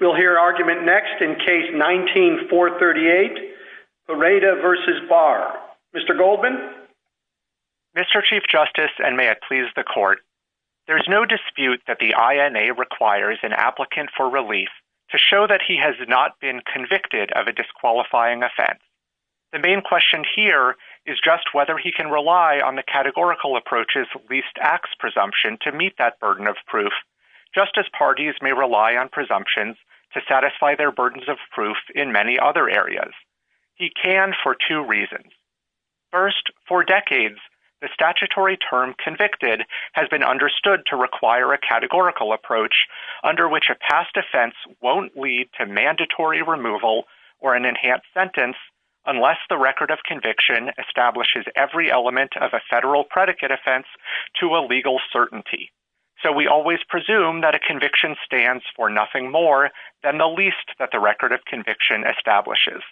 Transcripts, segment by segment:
Mr. Chief Justice, and may it please the Court, there is no dispute that the INA requires an applicant for relief to show that he has not been convicted of a disqualifying offense. The main question here is just whether he can rely on the categorical approach's least burden of proof, just as parties may rely on presumptions to satisfy their burdens of proof in many other areas. He can for two reasons. First, for decades, the statutory term convicted has been understood to require a categorical approach under which a past offense won't lead to mandatory removal or an enhanced sentence unless the record of So we always presume that a conviction stands for nothing more than the least that the record of conviction establishes.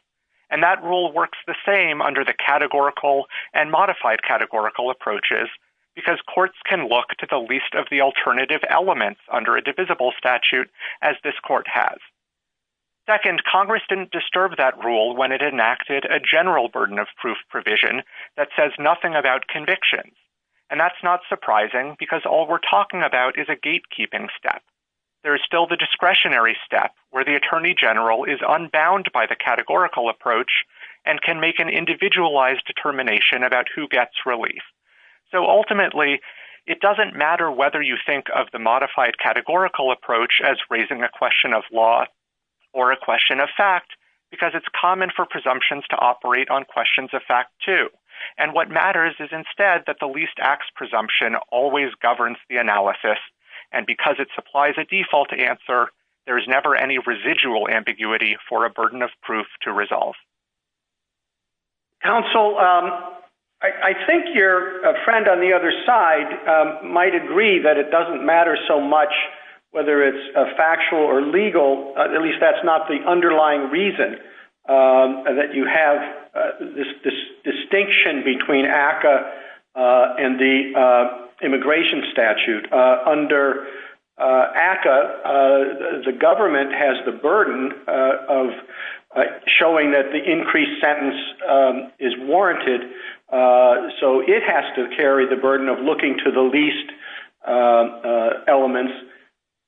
And that rule works the same under the categorical and modified categorical approaches because courts can look to the least of the alternative elements under a divisible statute as this Court has. Second, Congress didn't disturb that rule when it enacted a general burden of proof provision that says nothing about convictions. And that's not surprising because all we're talking about is a gatekeeping step. There's still the discretionary step where the attorney general is unbound by the categorical approach and can make an individualized determination about who gets relief. So ultimately, it doesn't matter whether you think of the modified categorical approach as raising a question of law or a question of fact because it's common for presumptions to operate on questions of fact too. And what always governs the analysis, and because it supplies a default answer, there's never any residual ambiguity for a burden of proof to resolve. Counsel, I think your friend on the other side might agree that it doesn't matter so much whether it's factual or legal, at least that's not the underlying reason that you have this immigration statute. Under ACCA, the government has the burden of showing that the increased sentence is warranted. So it has to carry the burden of looking to the least elements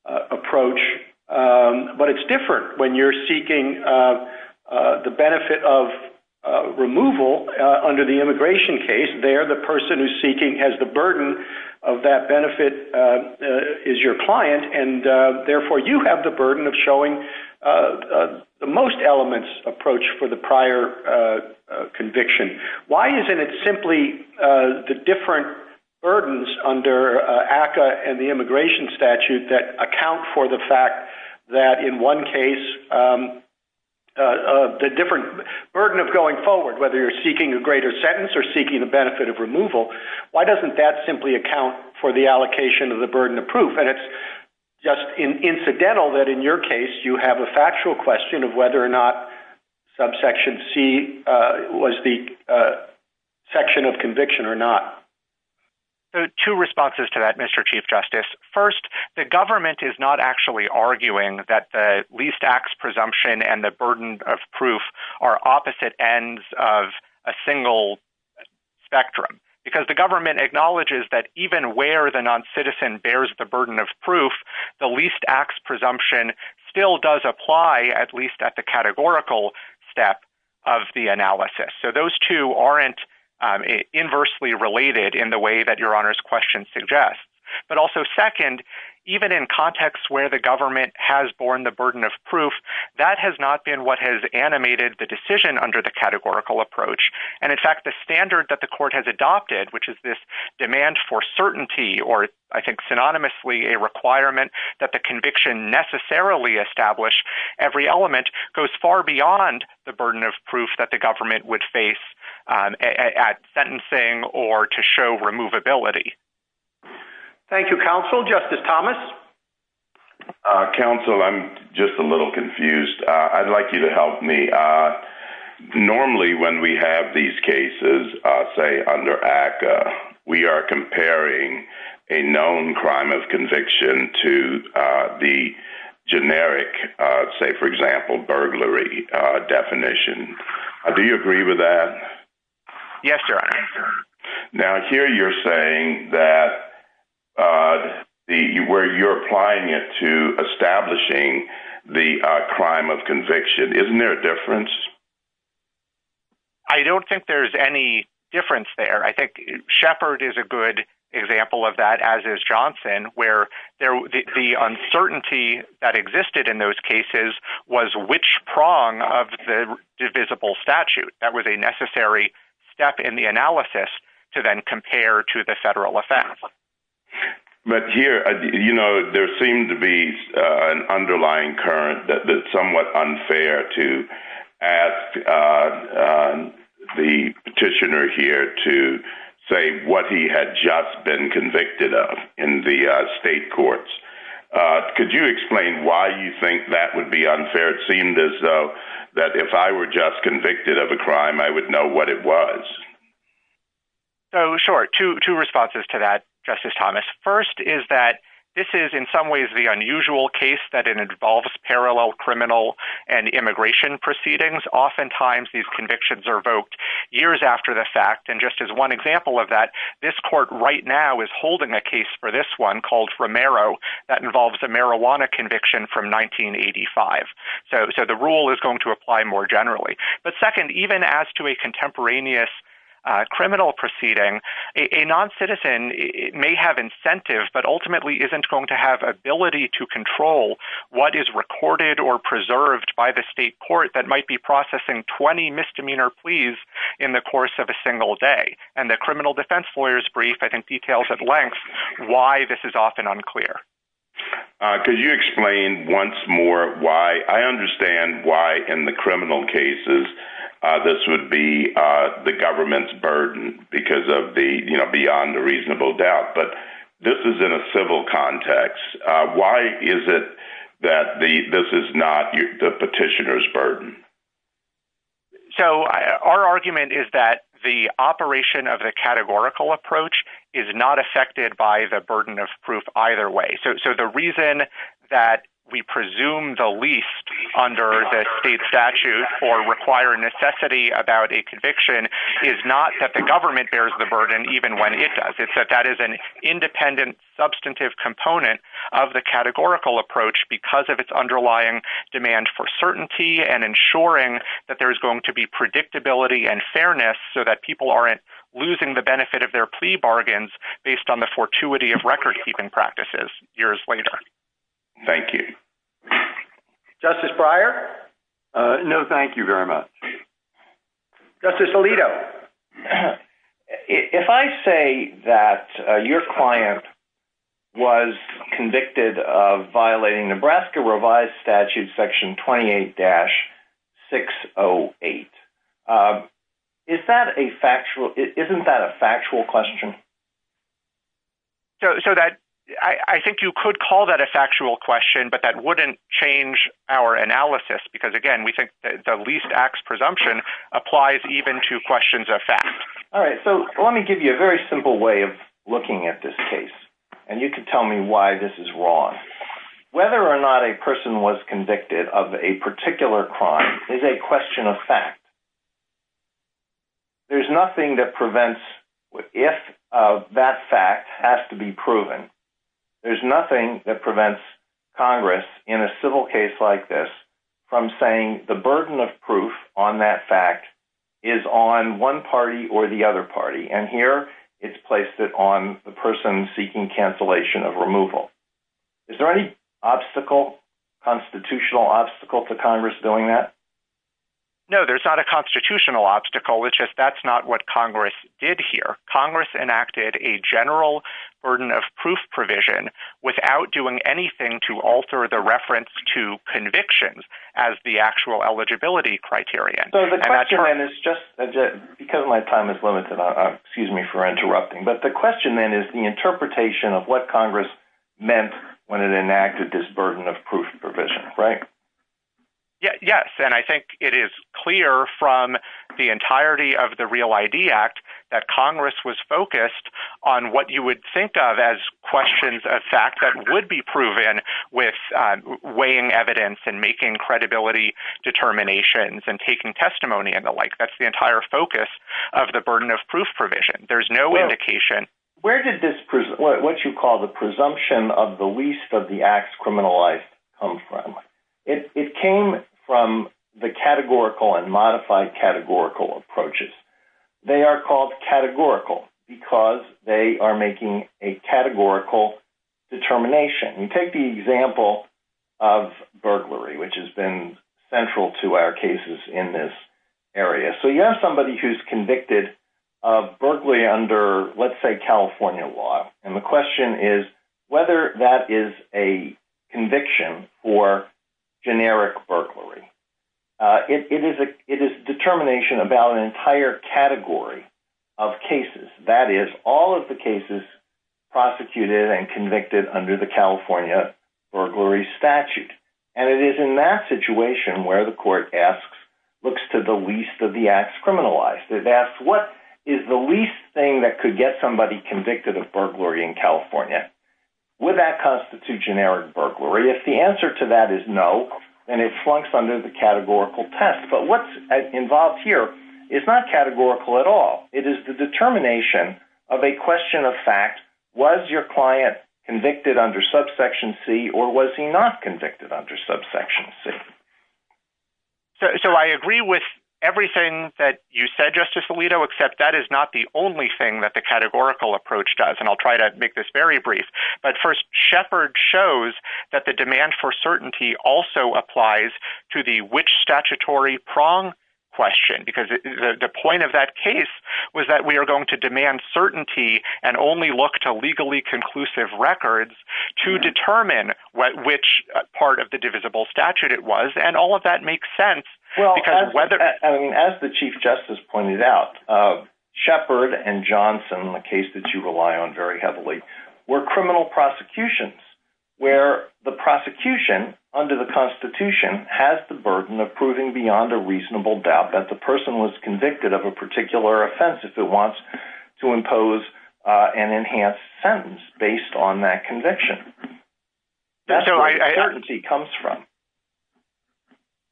approach. But it's different when you're seeking the benefit of removal under the immigration case. There, the person who's seeking has the burden of that benefit is your client. And therefore, you have the burden of showing the most elements approach for the prior conviction. Why isn't it simply the different burdens under ACCA and the immigration statute that account for the fact that in one case, the different burden of going forward, whether you're seeking a greater sentence or seeking the benefit of removal, why doesn't that simply account for the allocation of the burden of proof? And it's just incidental that in your case, you have a factual question of whether or not subsection C was the section of conviction or not. So two responses to that, Mr. Chief Justice. First, the government is not actually arguing that the least acts presumption and the burden of proof are opposite ends of a single spectrum. Because the government acknowledges that even where the non-citizen bears the burden of proof, the least acts presumption still does apply, at least at the categorical step of the analysis. So those two aren't inversely related in the way that Your Honor's question suggests. But also second, even in contexts where the government has borne the burden of proof, that has not been what has animated the decision under the categorical approach. And in fact, the standard that the court has adopted, which is this demand for certainty, or I think synonymously a requirement that the conviction necessarily establish, every element goes far beyond the burden of proof that the government would face at sentencing or to show removability. Thank you, counsel. Justice Thomas. Counsel, I'm just a little confused. I'd like you to help me. Normally, when we have these cases, say under ACCA, we are comparing a known crime of conviction to the generic, say, for example, a statute where you're applying it to establishing the crime of conviction. Isn't there a difference? I don't think there's any difference there. I think Shepard is a good example of that, as is Johnson, where the uncertainty that existed in those cases was which prong of the divisible statute. That was a necessary step in the analysis to then compare to the federal effect. But here, you know, there seemed to be an underlying current that's somewhat unfair to ask the petitioner here to say what he had just been convicted of in the state courts. Could you explain why you think that would be unfair? It seemed as though that if I were just convicted of a crime, I would know what it was. Oh, sure. Two responses to that, Justice Thomas. First is that this is in some ways the unusual case that involves parallel criminal and immigration proceedings. Oftentimes, these convictions are evoked years after the fact. And just as one example of that, this court right now is holding a case for this one called Romero that involves a marijuana conviction from 1985. So the rule is going to apply more generally. But second, even as to contemporaneous criminal proceeding, a non-citizen may have incentive, but ultimately isn't going to have ability to control what is recorded or preserved by the state court that might be processing 20 misdemeanor pleas in the course of a single day. And the criminal defense lawyer's brief, I think, details at length why this is often unclear. Could you explain once more why I understand why in the criminal cases, this would be the government's burden because of the, you know, beyond a reasonable doubt, but this is in a civil context. Why is it that this is not the petitioner's burden? So our argument is that the operation of the categorical approach is not affected by the burden of proof either way. So the reason that we presume the least under the state statute or require necessity about a conviction is not that the government bears the burden even when it does. It's that that is an independent substantive component of the categorical approach because of its underlying demand for certainty and ensuring that there is going to be predictability and fairness so that people aren't losing the based on the fortuity of record-keeping practices years later. Thank you. Justice Breyer? No, thank you very much. Justice Alito, if I say that your client was convicted of violating Nebraska revised statute section 28-608, is that a factual, isn't that a factual question? So that, I think you could call that a factual question, but that wouldn't change our analysis because again, we think that the least acts presumption applies even to questions of fact. All right, so let me give you a very simple way of looking at this case and you can tell me why this is wrong. Whether or not a person was convicted. There's nothing that prevents, if that fact has to be proven, there's nothing that prevents Congress in a civil case like this from saying the burden of proof on that fact is on one party or the other party. And here it's placed it on the person seeking cancellation of removal. Is there any obstacle, constitutional obstacle to Congress doing that? No, there's not a constitutional obstacle. It's just, that's not what Congress did here. Congress enacted a general burden of proof provision without doing anything to alter the reference to convictions as the actual eligibility criteria. So the question then is just, because my time is limited, excuse me for interrupting, but the question then is the interpretation of what Congress meant when it enacted this burden of proof provision, right? Yeah, yes. And I think it is clear from the entirety of the Real ID Act that Congress was focused on what you would think of as questions of fact that would be proven with weighing evidence and making credibility determinations and taking testimony and the like. That's the entire focus of the burden of proof provision. There's no indication. Where did this, what you call the presumption of the least of the acts criminalized come from? It came from the categorical and modified categorical approaches. They are called categorical because they are making a categorical determination. You take the example of burglary, which has been central to our cases in this area. So you have somebody who's convicted of burglary under, let's say, California law. And the question is whether that is a conviction for generic burglary. It is determination about an entire category of cases. That is, all of the cases prosecuted and convicted under the California burglary statute. And it is in that situation where the court asks, looks to the least of the acts criminalized. It asks, what is the least thing that could get somebody convicted of burglary in California? Would that constitute generic burglary? If the answer to that is no, then it flunks under the categorical test. But what's involved here is not categorical at all. It is the determination of a question of fact. Was your client convicted under subsection C or was he not convicted under subsection C? So I agree with everything that you said, Justice Alito, except that is not the only thing that the shows that the demand for certainty also applies to the which statutory prong question. Because the point of that case was that we are going to demand certainty and only look to legally conclusive records to determine which part of the divisible statute it was. And all of that makes sense because whether... Well, I mean, as the Chief Justice pointed out, Shepherd and Johnson, a case that you rely on very heavily, were criminal prosecutions where the prosecution under the Constitution has the burden of proving beyond a reasonable doubt that the person was convicted of a particular offense if it wants to impose an enhanced sentence based on that conviction. That's where certainty comes from.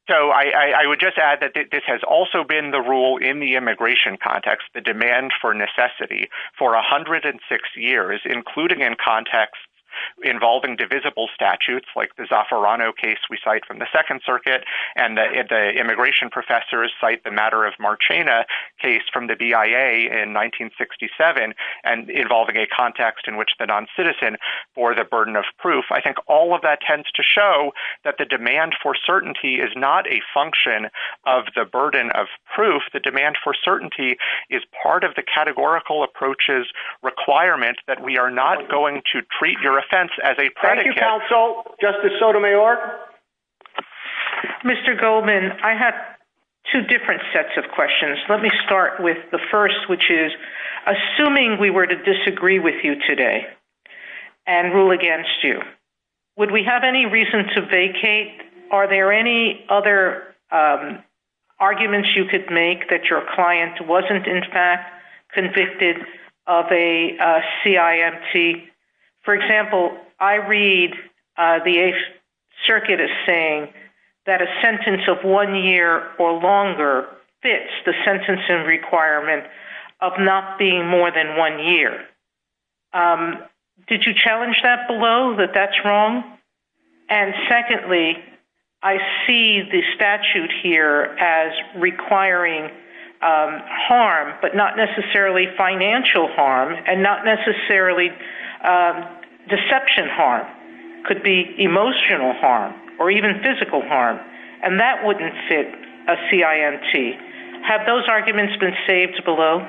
So I would just add that this has also been the in the immigration context, the demand for necessity for 106 years, including in context involving divisible statutes, like the Zaffirano case we cite from the Second Circuit, and the immigration professors cite the matter of Marchena case from the BIA in 1967, and involving a context in which the non-citizen bore the burden of proof. I think all of that demand for certainty is part of the categorical approaches requirement that we are not going to treat your offense as a predicate. Thank you, counsel. Justice Sotomayor. Mr. Goldman, I have two different sets of questions. Let me start with the first, which is assuming we were to disagree with you today and rule against you, would we have any reason to believe that your client wasn't in fact convicted of a CIMT? For example, I read the Eighth Circuit as saying that a sentence of one year or longer fits the sentencing requirement of not being more than one year. Did you challenge that below, that that's wrong? And secondly, I see the statute here as requiring harm, but not necessarily financial harm, and not necessarily deception harm. Could be emotional harm, or even physical harm, and that wouldn't fit a CIMT. Have those arguments been saved below?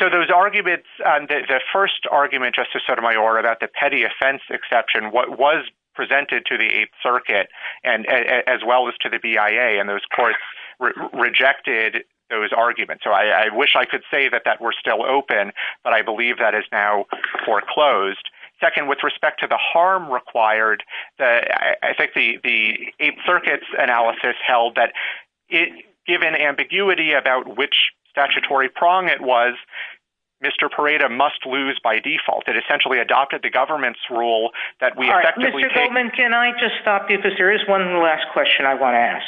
So those arguments, the first argument, Justice Sotomayor, about the petty offense exception, what was presented to the Eighth Circuit, as well as to the BIA, and those courts rejected those arguments. So I wish I could say that that were still open, but I believe that is now foreclosed. Second, with respect to the harm required, I think the Eighth Circuit's analysis held that given ambiguity about which statutory prong it was, Mr. Parada must lose by default. It essentially adopted the government's rule that we effectively... Mr. Goldman, can I just stop you, because there is one last question I want to ask.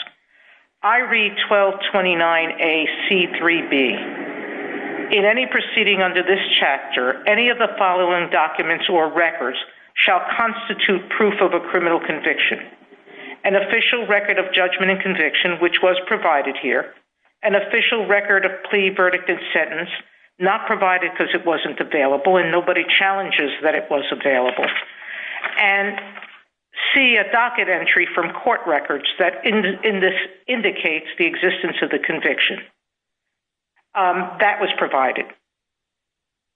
I read 1229 A.C. 3B. In any proceeding under this chapter, any of the following documents or records shall constitute proof of a criminal conviction. An official record of judgment and conviction, which was provided here, an official record of plea, verdict, and sentence, not provided because it wasn't available, and nobody challenges that it was available. And see a docket entry from court records that in this indicates the existence of the conviction. That was provided.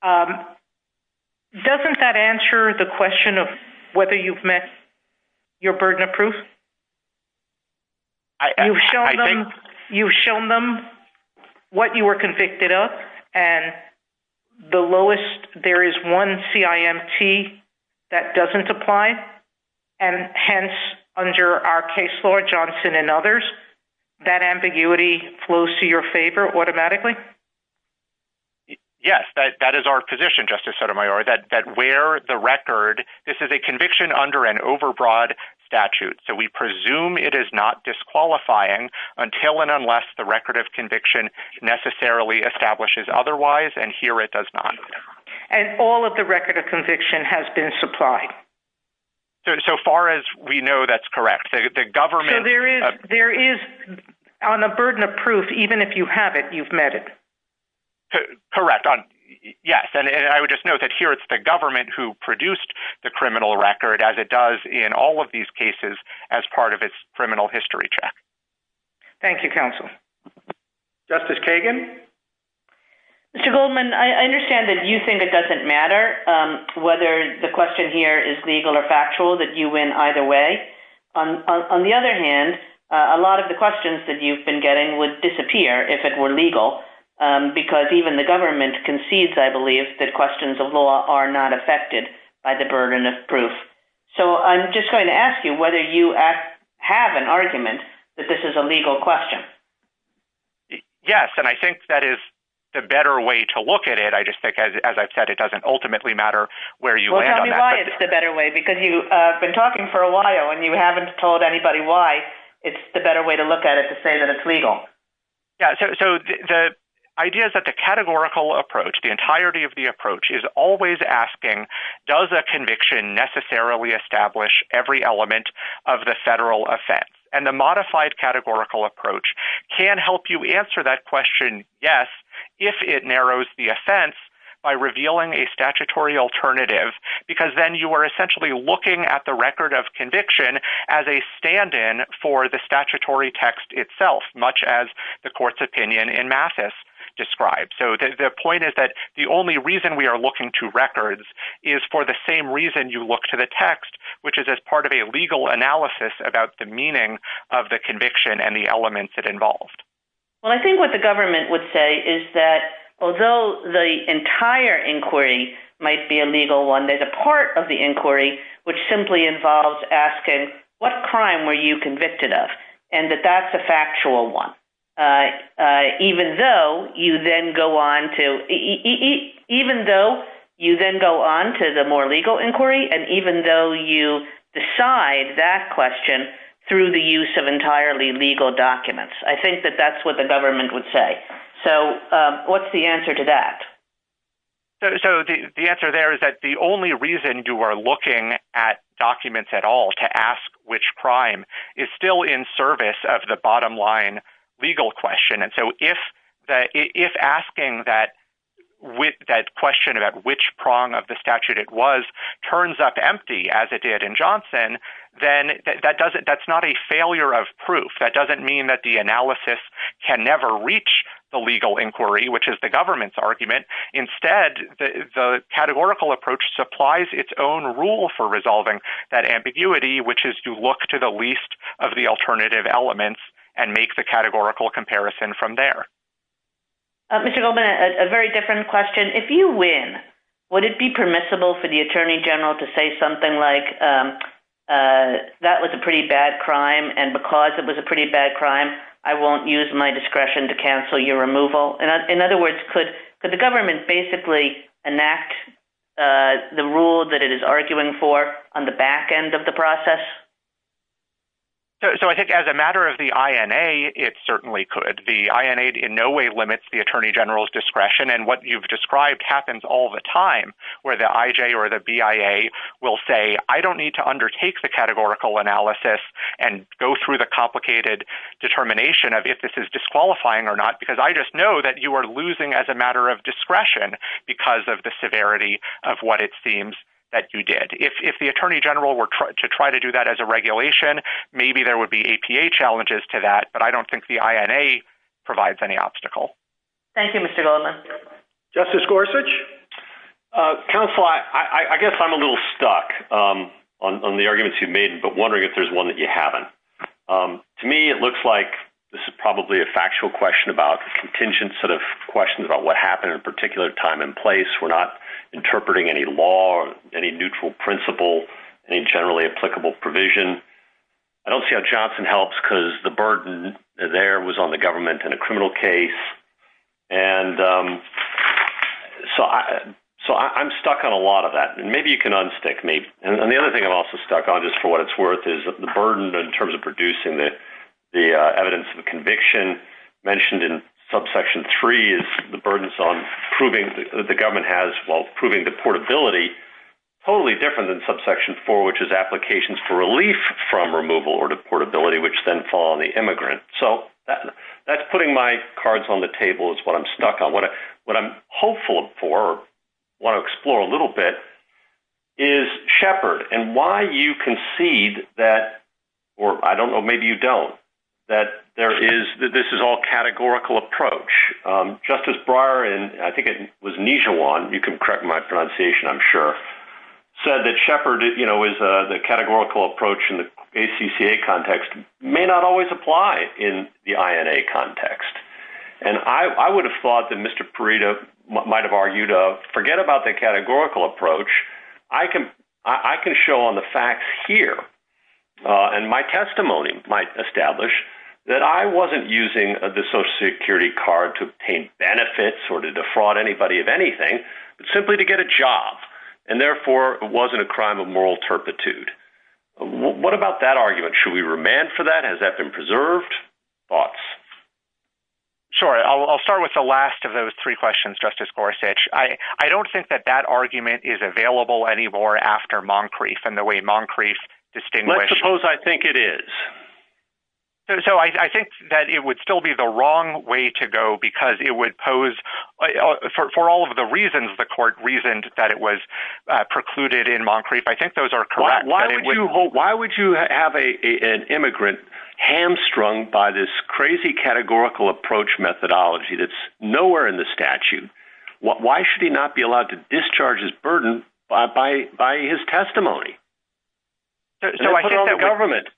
Doesn't that answer the question of whether you've your burden of proof? You've shown them what you were convicted of, and the lowest, there is one CIMT that doesn't apply. And hence, under our case law, Johnson and others, that ambiguity flows to your favor automatically? Yes, that is our position, Justice Sotomayor, that where the record, this is a conviction under an overbroad statute, so we presume it is not disqualifying until and unless the record of conviction necessarily establishes otherwise, and here it does not. And all of the record of conviction has been supplied? So far as we know, that's correct. The government... So there is, on the burden of proof, even if you have it, you've met it? Correct. Yes, and I would just note that here it's the government who produced the criminal record as it does in all of these cases as part of its criminal history check. Thank you, counsel. Justice Kagan? Mr. Goldman, I understand that you think it doesn't matter whether the question here is legal or factual, that you win either way. On the other hand, a lot of the questions that even the government concedes, I believe, that questions of law are not affected by the burden of proof. So I'm just going to ask you whether you have an argument that this is a legal question? Yes, and I think that is the better way to look at it. I just think, as I've said, it doesn't ultimately matter where you land on that. Well, tell me why it's the better way, because you've been talking for a while and you haven't told anybody why it's the better way to look at it to say that it's legal. So the idea is that the categorical approach, the entirety of the approach, is always asking, does a conviction necessarily establish every element of the federal offense? And the modified categorical approach can help you answer that question, yes, if it narrows the offense by revealing a statutory alternative, because then you are much as the court's opinion in Mathis describes. So the point is that the only reason we are looking to records is for the same reason you look to the text, which is as part of a legal analysis about the meaning of the conviction and the elements it involved. Well, I think what the government would say is that although the entire inquiry might be a legal one, there's a part of the inquiry which simply involves asking, what crime were you convicted of? And that that's a factual one. Even though you then go on to the more legal inquiry, and even though you decide that question through the use of entirely legal documents. I think that that's what the government would say. So what's the answer to that? So the answer there is that the only reason you are looking at documents at all to ask which crime is still in service of the bottom line, legal question. And so if asking that question about which prong of the statute it was, turns up empty as it did in Johnson, then that's not a failure of proof. That doesn't mean that the analysis can never reach the legal inquiry, which is the government's argument. Instead, the categorical approach supplies its own rule for resolving that ambiguity, which is to look to the least of the alternative elements and make the categorical comparison from there. Mr. Goldman, a very different question. If you win, would it be permissible for the Attorney General to say something like, that was a pretty bad crime, and because it was a pretty bad crime, I won't use my discretion to cancel your removal? In other words, could the government basically enact the rule that it is arguing for on the back end of the process? So I think as a matter of the INA, it certainly could. The INA in no way limits the Attorney General's discretion. And what you've described happens all the time, where the IJ or the BIA will say, I don't need to undertake the categorical analysis and go through the complicated determination of if this is disqualifying or not, because I just know that you are losing as a severity of what it seems that you did. If the Attorney General were to try to do that as a regulation, maybe there would be APA challenges to that, but I don't think the INA provides any obstacle. Thank you, Mr. Goldman. Justice Gorsuch? Counsel, I guess I'm a little stuck on the arguments you've made, but wondering if there's one that you haven't. To me, it looks like this is probably a factual question about contingent sort of questions about what happened in a interpreting any law or any neutral principle, any generally applicable provision. I don't see how Johnson helps because the burden there was on the government in a criminal case. And so I'm stuck on a lot of that, and maybe you can unstick me. And the other thing I'm also stuck on, just for what it's worth, is the burden in terms of producing the evidence of conviction mentioned in subsection three is the burdens on proving that the government has while proving deportability, totally different than subsection four, which is applications for relief from removal or deportability, which then fall on the immigrant. So that's putting my cards on the table is what I'm stuck on. What I'm hopeful for, want to explore a little bit, is Shepard and why you concede that, or I don't know, maybe you don't, that this is all categorical approach. Justice Breyer, and I think it was Nijhawan, you can correct my pronunciation, I'm sure, said that Shepard is the categorical approach in the ACCA context may not always apply in the INA context. And I would have thought that Mr. Parita might've argued, forget about the categorical approach. I can show on the facts here, and my testimony might establish that I wasn't using the social security card to obtain benefits or to defraud anybody of anything, but simply to get a job, and therefore it wasn't a crime of moral turpitude. What about that argument? Should we remand for that? Has that been preserved? Thoughts? Sure. I'll start with the last of those three questions, Justice Gorsuch. I don't think that that argument is available anymore after Moncrief and the way Moncrief distinguished- Let's suppose I think it is. So I think that it would still be the wrong way to go because it would pose, for all of the reasons the court reasoned that it was precluded in Moncrief, I think those are correct. Why would you have an immigrant hamstrung by this crazy categorical approach methodology that's nowhere in the statute? Why should he not be allowed to discharge his burden by his testimony? So I think that- And put it on the government.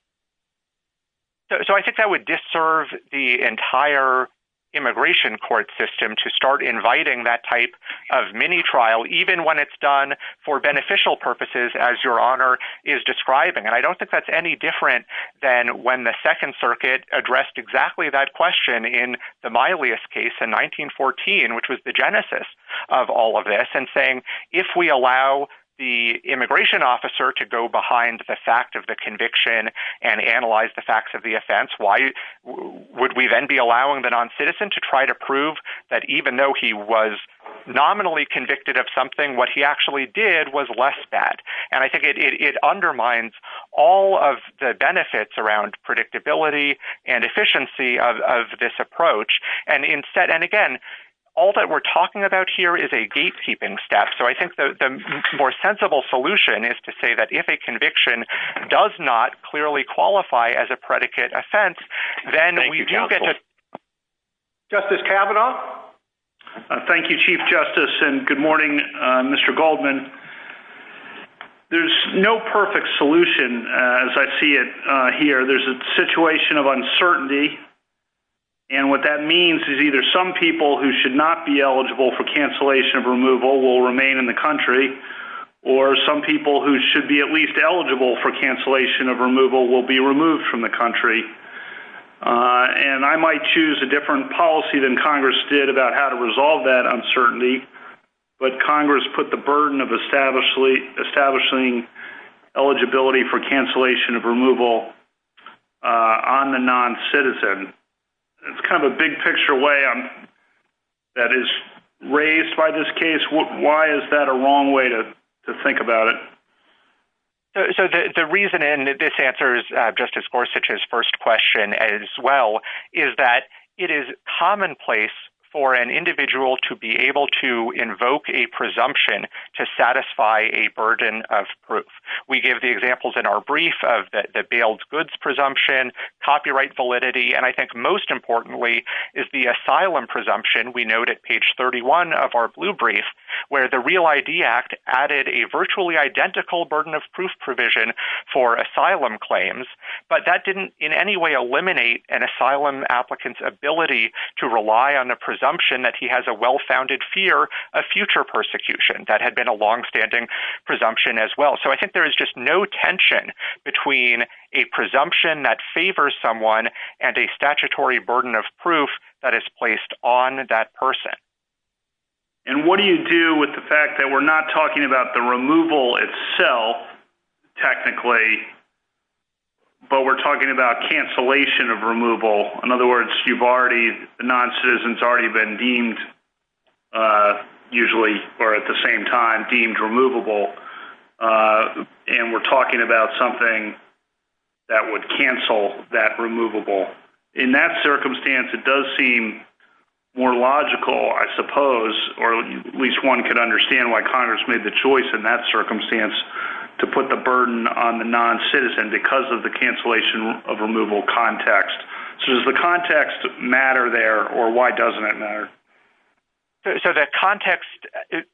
So I think that would disserve the entire immigration court system to start inviting that type of mini trial, even when it's done for beneficial purposes, as your honor is describing. And I don't think that's any different than when the Second Circuit addressed exactly that question in the Milius case in 1914, which was the genesis of all of this and saying, if we allow the immigration officer to go behind the fact of the conviction and analyze the facts of the offense, why would we then be allowing the non-citizen to try to prove that even though he was nominally convicted of something, what he actually did was less bad? And I think it undermines all of the benefits around predictability and efficiency of this approach. And instead, and again, all that we're talking about here is a gatekeeping step. So I think the more sensible solution is to say that if a conviction does not clearly qualify as a predicate offense, then we do get to- Thank you, counsel. Justice Kavanaugh. Thank you, Chief Justice. And good morning, Mr. Goldman. There's no perfect solution, as I see it here. There's a situation of uncertainty. And what that means is either some people who should not be eligible for cancellation of removal will remain in the country, or some people who should be at least eligible for cancellation of removal will be removed from the country. And I might choose a different policy than Congress did about how to resolve that uncertainty, but Congress put the burden of establishing eligibility for cancellation of removal on the non-citizen. It's kind of a big picture way that is raised by this case. Why is that a wrong way to think about it? So the reason, and this answers Justice Gorsuch's first question as well, is that it is commonplace for an individual to be able to invoke a presumption to satisfy a burden of proof. We give the examples in our brief of the bailed goods presumption, copyright validity, and I think most importantly is the asylum presumption, we note at page 31 of our blue brief, where the Real ID Act added a virtually identical burden of proof provision for asylum claims, but that didn't in any way eliminate an asylum applicant's ability to rely on the presumption that he has a well-founded fear of future persecution. That had been a long-standing presumption as well. So I think there is just no tension between a presumption that favors someone and a statutory burden of proof that is placed on that person. And what do you do with the fact that we're not talking about the removal itself, technically, but we're talking about cancellation of removal. In other words, you've already, the non-citizen's already been deemed, usually, or at the same time, deemed removable, and we're talking about something that would cancel that removable. In that circumstance, it does seem more logical, I suppose, or at least one could understand why Congress made the choice in that circumstance to put the burden on the non-citizen because of the cancellation of removal context. So does the context matter there, or why doesn't it matter? So the context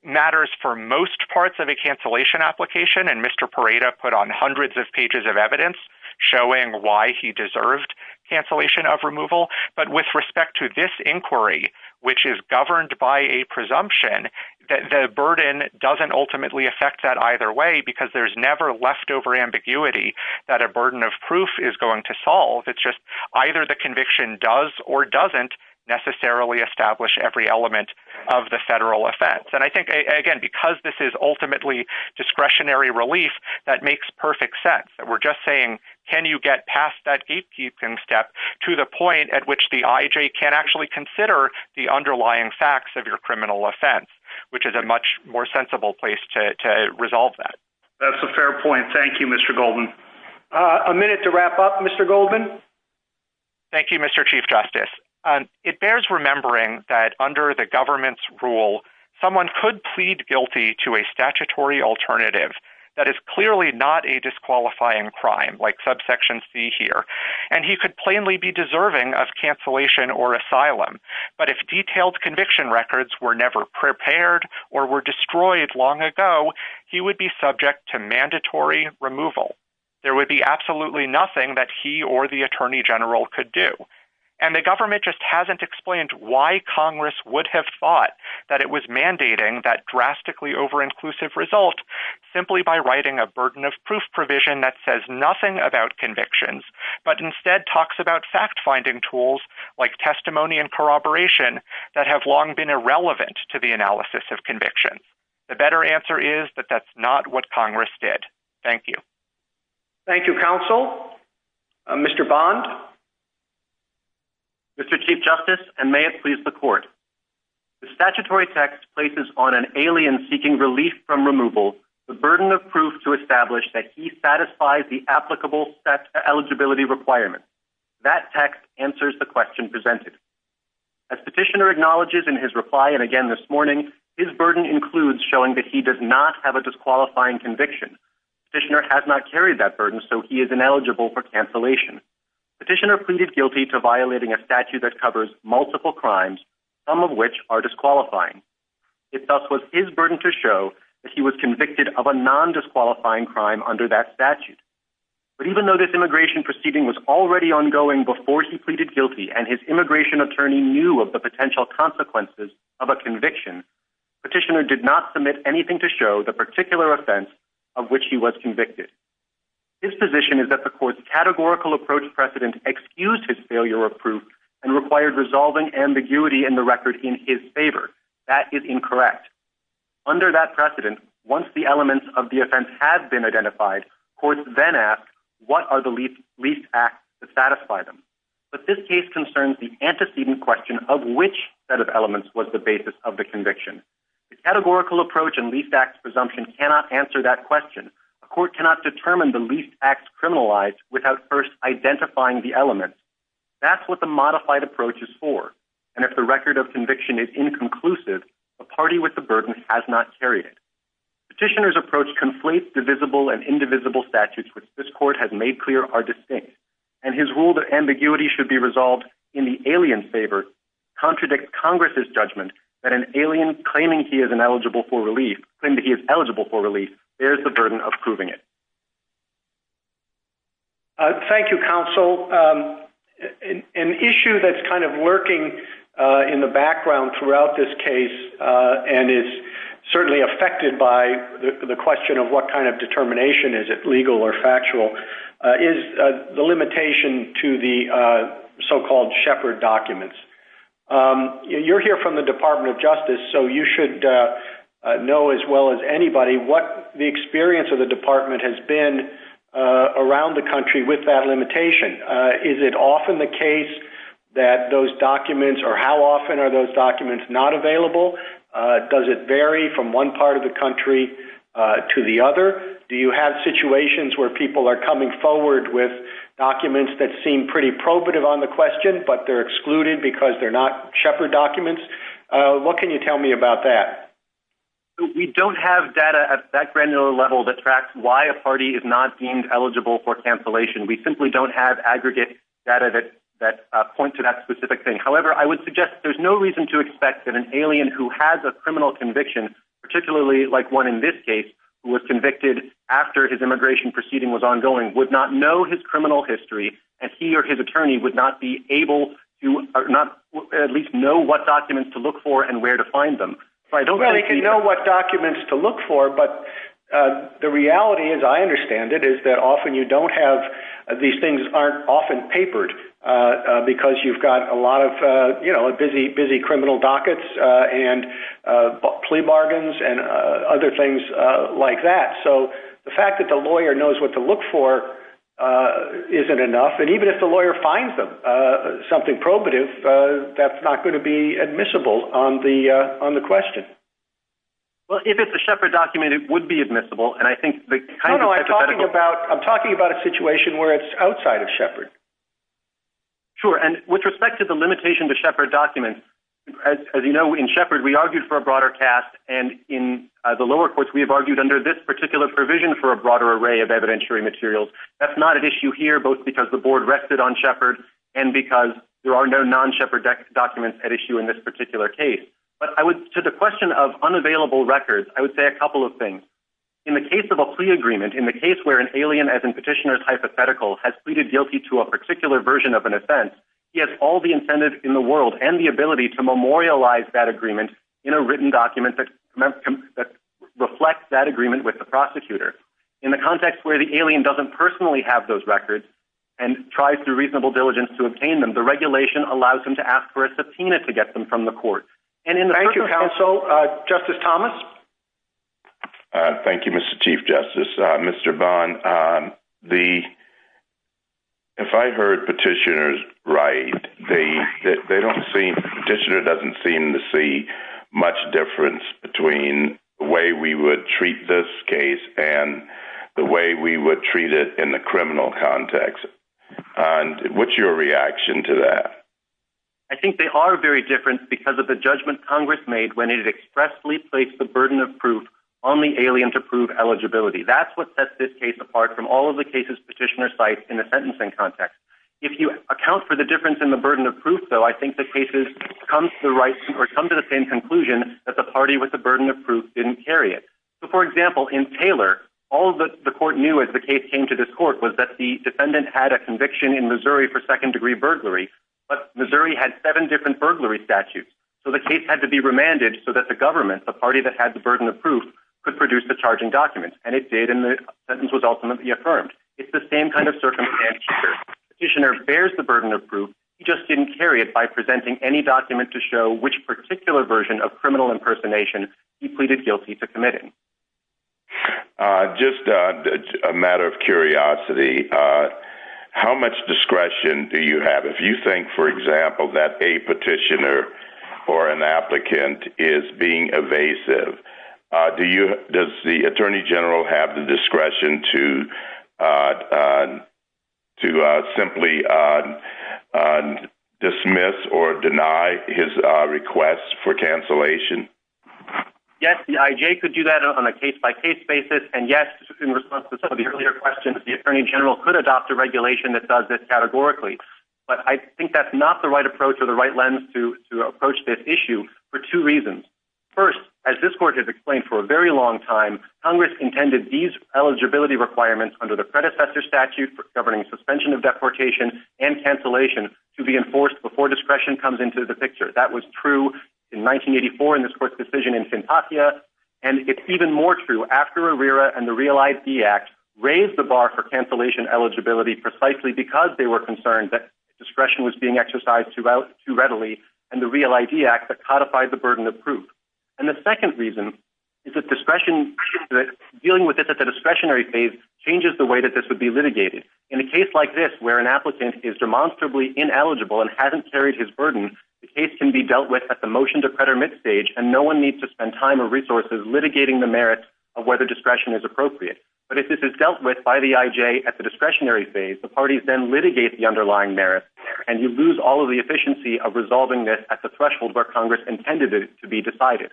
matters for most parts of a cancellation application, and Mr. Parada put on hundreds of pages of evidence showing why he deserved cancellation of removal. But with respect to this inquiry, which is governed by a presumption, the burden doesn't ultimately affect that either way because there's never leftover ambiguity that a burden of proof is going to solve. It's just either the conviction does or doesn't necessarily establish every element of the federal offense. And I think, again, because this is ultimately discretionary relief, that makes perfect sense. That we're just saying, can you get past that gatekeeping step to the point at which the IJ can actually consider the underlying facts of your criminal offense, which is a much more sensible place to resolve that. That's a fair point. Thank you, Mr. Goldman. A minute to wrap up, Mr. Goldman. Thank you, Mr. Chief Justice. It bears remembering that under the government's rule, someone could plead guilty to a statutory alternative that is clearly not a disqualifying crime, like subsection c here, and he could plainly be deserving of cancellation or asylum. But if detailed conviction records were never prepared or were destroyed long ago, he would be subject to mandatory removal. There would be explained why Congress would have thought that it was mandating that drastically over-inclusive result simply by writing a burden of proof provision that says nothing about convictions, but instead talks about fact-finding tools like testimony and corroboration that have long been irrelevant to the analysis of convictions. The better answer is that that's not what Congress did. Thank you. Thank you, counsel. Mr. Bond. Mr. Chief Justice, and may it please the court. The statutory text places on an alien seeking relief from removal the burden of proof to establish that he satisfies the applicable eligibility requirement. That text answers the question presented. As petitioner acknowledges in his reply, and again this morning, his burden includes showing that he does not have a disqualifying conviction. Petitioner has not carried that burden, so he is ineligible for cancellation. Petitioner pleaded guilty to violating a statute that covers multiple crimes, some of which are disqualifying. It thus was his burden to show that he was convicted of a non-disqualifying crime under that statute. But even though this immigration proceeding was already ongoing before he pleaded guilty, and his immigration attorney knew of the potential consequences of a conviction, petitioner did not submit anything to show the particular offense of which he was convicted. His position is that the court's categorical approach precedent excused his failure of proof and required resolving ambiguity in the record in his favor. That is incorrect. Under that precedent, once the elements of the offense have been identified, courts then ask what are the least acts to satisfy them. But this case concerns the antecedent question of which set of elements was the basis of the conviction. The categorical approach and least acts presumption cannot answer that question. A court cannot determine the least acts criminalized without first identifying the elements. That's what the modified approach is for. And if the record of conviction is inconclusive, a party with the burden has not carried it. Petitioner's approach conflates divisible and indivisible statutes, which this court has made clear are distinct. And his rule that ambiguity should be resolved in the alien's favor contradicts Congress's judgment that an alien claiming he is eligible for relief bears the burden of proving it. Thank you, counsel. An issue that's kind of lurking in the background throughout this case and is certainly affected by the question of what kind of determination, is it legal or factual, is the limitation to the so-called shepherd documents. You're here from the Department of Justice, so you should know as well as anybody what the experience of the department has been around the country with that limitation. Is it often the case that those documents, or how often are those documents not available? Does it vary from one part of the country to the other? Do you have situations where people are coming forward with documents that seem pretty probative on the question, but they're excluded because they're not shepherd documents? What can you tell me about that? We don't have data at that granular level that tracks why a party is not deemed eligible for cancellation. We simply don't have aggregate data that point to that specific thing. However, I would suggest there's no reason to expect that an alien who has a case, who was convicted after his immigration proceeding was ongoing, would not know his criminal history, and he or his attorney would not be able to at least know what documents to look for and where to find them. They can know what documents to look for, but the reality, as I understand it, is that often you don't have, these things aren't often papered because you've got a lot of busy criminal dockets and plea bargains and other things like that. The fact that the lawyer knows what to look for isn't enough. Even if the lawyer finds something probative, that's not going to be admissible on the question. If it's a shepherd document, it would be admissible. I think the hypothetical... No, no. I'm talking about a situation where it's outside of shepherd. Sure. And with respect to the limitation to shepherd documents, as you know, in shepherd, we argued for a broader cast, and in the lower courts, we have argued under this particular provision for a broader array of evidentiary materials. That's not an issue here, both because the board rested on shepherd and because there are no non-shepherd documents at issue in this particular case. But I would, to the question of unavailable records, I would say a couple of things. In the case of a plea agreement, in the case where an alien, as in petitioner's hypothetical, has pleaded guilty to a particular version of an offense, he has all the incentives in the world and the ability to memorialize that agreement in a written document that reflects that agreement with the prosecutor. In the context where the alien doesn't personally have those records and tries through reasonable diligence to obtain them, the regulation allows him to ask for a subpoena to get them from the court. Thank you, counsel. Justice Thomas? Thank you, Mr. Chief Justice. Mr. Bond, if I heard petitioners right, the petitioner doesn't seem to see much difference between the way we would treat this case and the way we would treat it in the criminal context. What's your reaction to that? I think they are very different because of the judgment Congress made when it expressly placed the burden of proof on the alien to prove eligibility. That's what sets this case apart from all of the cases petitioners cite in the sentencing context. If you account for the difference in the burden of proof, though, I think the cases come to the same conclusion that the party with the burden of proof didn't carry it. For example, in Taylor, all that the court knew as the case came to this court was that the defendant had a conviction in Missouri for second-degree burglary, but Missouri had seven burglary statutes. So the case had to be remanded so that the government, the party that had the burden of proof, could produce the charging document. And it did, and the sentence was ultimately affirmed. It's the same kind of circumstance here. Petitioner bears the burden of proof. He just didn't carry it by presenting any document to show which particular version of criminal impersonation he pleaded guilty to committing. Just a matter of curiosity, uh, how much discretion do you have? If you think, for example, that a petitioner or an applicant is being evasive, uh, do you, does the attorney general have the discretion to, uh, uh, to, uh, simply, uh, uh, dismiss or deny his, uh, requests for cancellation? Yes, the IJ could do that on a case by case basis. And yes, in response to some of the earlier questions, the attorney general could adopt a regulation that does this categorically, but I think that's not the right approach or the right lens to, to approach this issue for two reasons. First, as this court has explained for a very long time, Congress intended these eligibility requirements under the predecessor statute for governing suspension of deportation and cancellation to be enforced before discretion comes into the picture. That was true in 1984 in this court's decision in Fantasia. And it's even more true after and the real ID act raised the bar for cancellation eligibility precisely because they were concerned that discretion was being exercised throughout too readily. And the real ID act that codified the burden of proof. And the second reason is that discretion that dealing with it at the discretionary phase changes the way that this would be litigated in a case like this, where an applicant is demonstrably ineligible and hasn't carried his burden. The case can be dealt with at the motion to credit mid stage, and no one needs to spend time or resources litigating the merit of whether discretion is appropriate. But if this is dealt with by the IJ at the discretionary phase, the parties then litigate the underlying merit and you lose all of the efficiency of resolving this at the threshold where Congress intended it to be decided.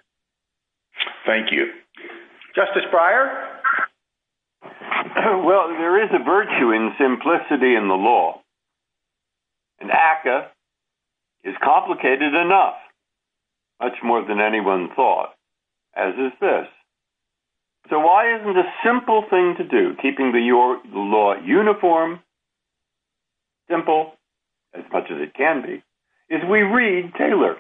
Thank you. Justice Breyer. Well, there is a virtue in simplicity in the law and ACA is complicated enough, much more than anyone thought, as is this. So why isn't a simple thing to do, keeping the law uniform, simple, as much as it can be, is we read Taylor.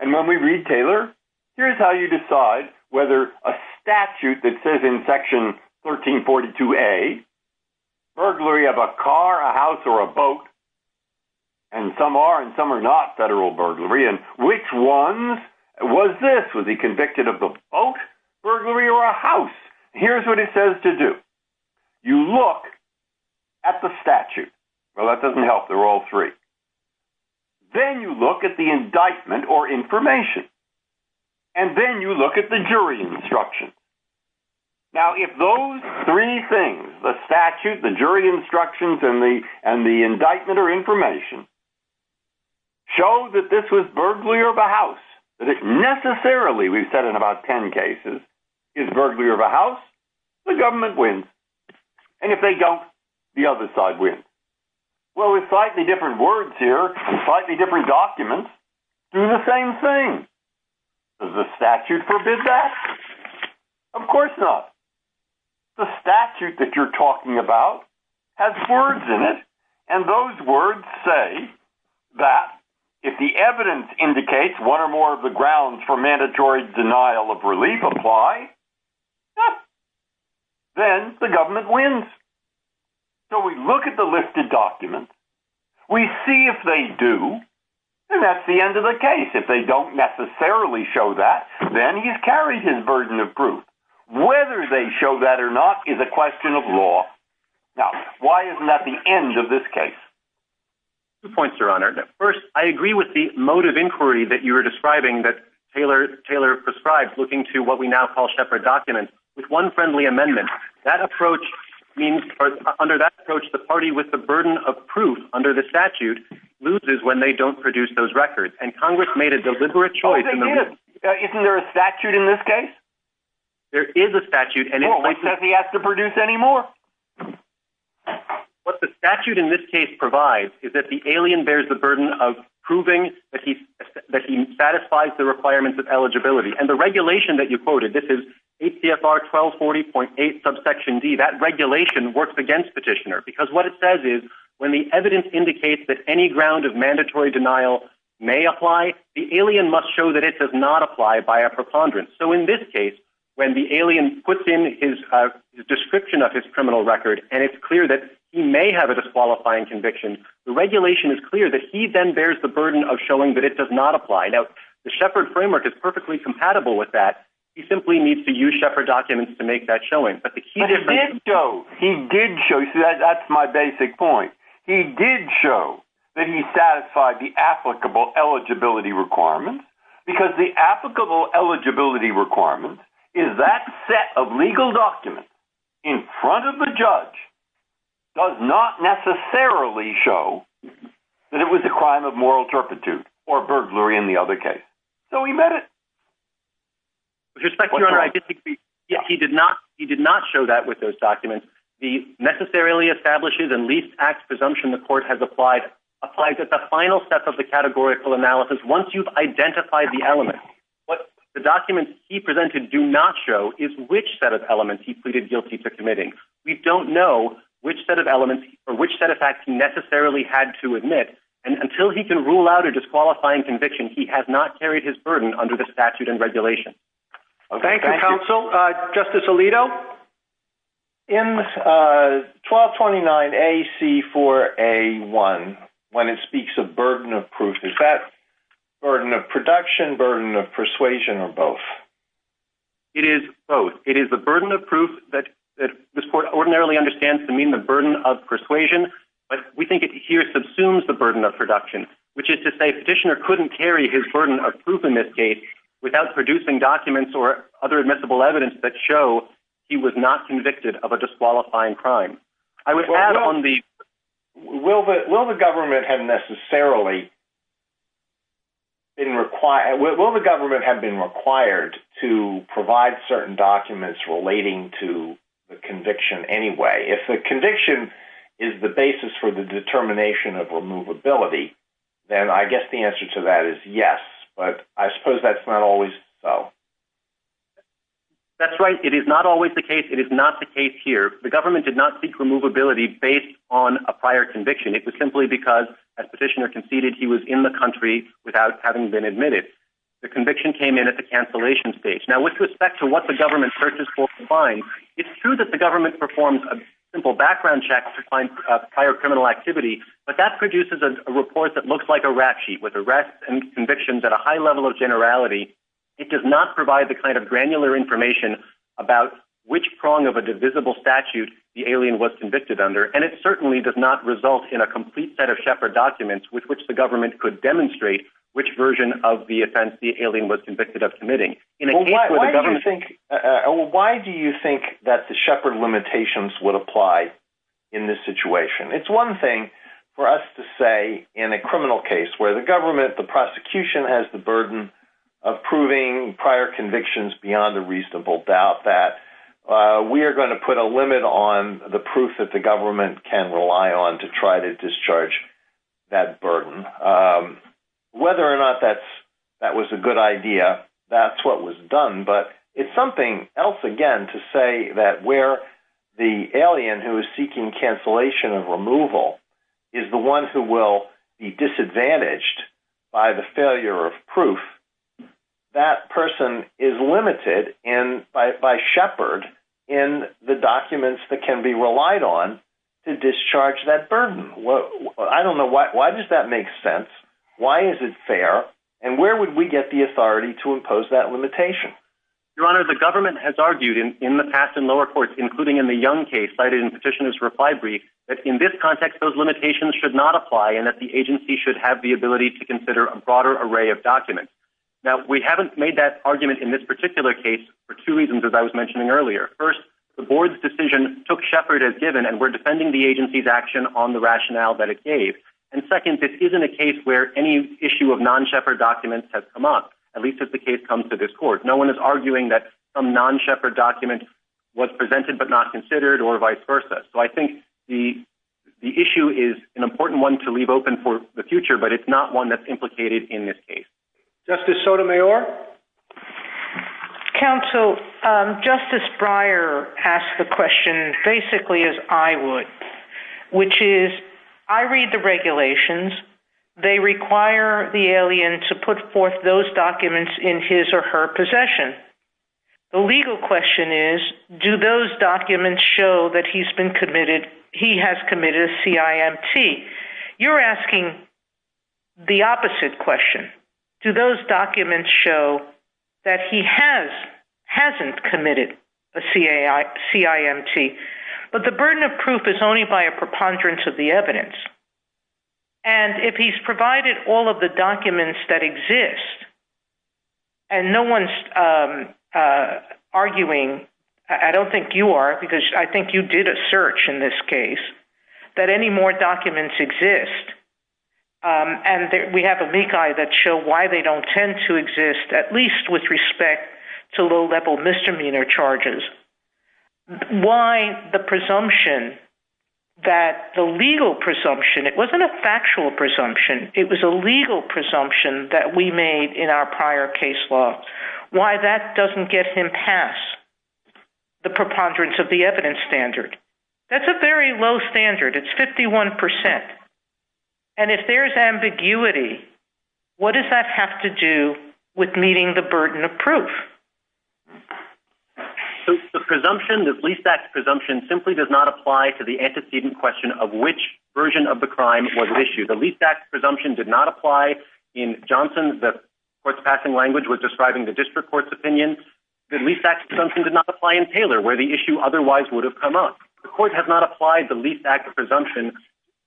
And when we read Taylor, here's how you decide whether a statute that says in section 1342A, burglary of a car, a house, or a boat, and some are and some are not federal burglary, and which ones was this? Was he convicted of the boat burglary or a house? Here's what it says to do. You look at the statute. Well, that doesn't help. They're all three. Then you look at the indictment or information. And then you look at the jury instruction. Now, if those three things, the statute, the jury instructions, and the indictment or information, show that this was burglary of a house, that it necessarily, we've said in about 10 cases, is burglary of a house, the government wins. And if they don't, the other side wins. Well, with slightly different words here, slightly different documents, do the same thing. Does the statute forbid that? Of course not. The statute that you're talking about has words in it, and those words say that if the evidence indicates one or more of the grounds for mandatory denial of relief apply, then the government wins. So we look at the lifted documents. We see if they do, and that's the end of the case. If they don't necessarily show that, then he's carried his burden of proof. Whether they show that or not is a question of law. Now, why isn't that the end of this case? Two points, Your Honor. First, I agree with the mode of inquiry that you were describing that Taylor prescribes, looking to what we now call shepherd documents, with one friendly amendment. Under that approach, the party with the burden of proof under the statute loses when they don't produce those records. And Oh, they do. Isn't there a statute in this case? There is a statute. Well, what says he has to produce any more? What the statute in this case provides is that the alien bears the burden of proving that he satisfies the requirements of eligibility. And the regulation that you quoted, this is ACFR 1240.8 subsection D, that regulation works against petitioner. Because what it says is when the evidence indicates that any ground of mandatory denial may apply, the alien must show that it does not apply by a preponderance. So in this case, when the alien puts in his description of his criminal record, and it's clear that he may have a disqualifying conviction, the regulation is clear that he then bears the burden of showing that it does not apply. Now, the shepherd framework is perfectly compatible with that. He simply needs to use shepherd documents to make that point. He did show that he satisfied the applicable eligibility requirements, because the applicable eligibility requirements is that set of legal documents in front of the judge does not necessarily show that it was a crime of moral turpitude or burglary in the other case. So he met it. With respect to your honor, he did not, he did not show that with those documents, the necessarily establishes and least acts presumption the court has applied, applies at the final step of the categorical analysis. Once you've identified the element, what the documents he presented do not show is which set of elements he pleaded guilty to committing. We don't know which set of elements or which set of facts he necessarily had to admit. And until he can rule out a disqualifying conviction, he has not carried his burden under the statute and regulation. Thank you, counsel. Justice Alito. In 1229 AC4A1, when it speaks of burden of proof, is that burden of production, burden of persuasion, or both? It is both. It is the burden of proof that this court ordinarily understands to mean the burden of persuasion, but we think it here subsumes the burden of production, which is to say petitioner couldn't carry his burden of proof in this case without producing documents or other admissible evidence that show he was not convicted of a disqualifying crime. I would add on the... Will the government have necessarily been required, will the government have been required to provide certain documents relating to the conviction anyway? If the conviction is the basis for the determination of removability, then I guess the answer to that is yes, but I suppose that's not always so. That's right. It is not always the case. It is not the case here. The government did not seek removability based on a prior conviction. It was simply because, as petitioner conceded, he was in the country without having been admitted. The conviction came in at the cancellation stage. Now, with respect to what the government searches for to find, it's true that the government performs a simple background check to find prior criminal activity, but that produces a report that looks like a rap sheet with arrests and convictions at a high level of generality. It does not provide the kind of granular information about which prong of a divisible statute the alien was convicted under, and it certainly does not result in a complete set of Shepard documents with which the government could demonstrate which version of the offense the alien was convicted of committing. Why do you think that the Shepard limitations would apply in this situation? It's one thing for us to say in a criminal case where the government, the prosecution, has the burden of proving prior convictions beyond a reasonable doubt that we are going to put a limit on the proof that the government can rely on to try to discharge that burden. Whether or not that was a good idea, that's what was done. But it's something else, again, to say that where the alien who is seeking cancellation of removal is the one who will be disadvantaged by the failure of proof, that person is limited by Shepard in the documents that can be relied on to discharge that burden. I don't know, why does that make sense? Why is it fair? And where would we get the authority to impose that limitation? Your Honor, the government has argued in the past in lower courts, including in the Young case cited in Petitioner's reply brief, that in this context those limitations should not apply and that the agency should have the ability to consider a broader array of documents. Now, we haven't made that argument in this particular case for two reasons, as I was saying earlier. First, the Board's decision took Shepard as given and we're defending the agency's action on the rationale that it gave. And second, this isn't a case where any issue of non-Shepard documents has come up, at least as the case comes to this Court. No one is arguing that some non-Shepard document was presented but not considered or vice versa. So I think the issue is an important one to leave open for the future, but it's not one that's implicated in this case. Justice Sotomayor? Counsel, Justice Breyer asked the question basically as I would, which is, I read the regulations. They require the alien to put forth those documents in his or her possession. The legal question is, do those documents show that he has committed a CIMT? You're asking the opposite question. Do those documents show that he has, hasn't committed a CIMT? But the burden of proof is only by a preponderance of the evidence. And if he's provided all of the documents that exist and no one's arguing, I don't think you are, because I think you did a search in this case, that any more documents exist and we have a meek eye that show why they don't tend to exist, at least with respect to low-level misdemeanor charges. Why the presumption that the legal presumption, it wasn't a factual presumption, it was a legal presumption that we made in our prior case law. Why that doesn't get him past the preponderance of the evidence standard? That's a very low standard. It's 51%. And if there's ambiguity, what does that have to do with meeting the burden of proof? So the presumption, the least acts presumption, simply does not apply to the antecedent question of which version of the crime was issued. The least acts presumption did not apply. In Johnson, the court's passing language was describing the district court's opinion. The least acts presumption did not apply in Taylor, where the issue otherwise would have come up. The court has not applied the least acts presumption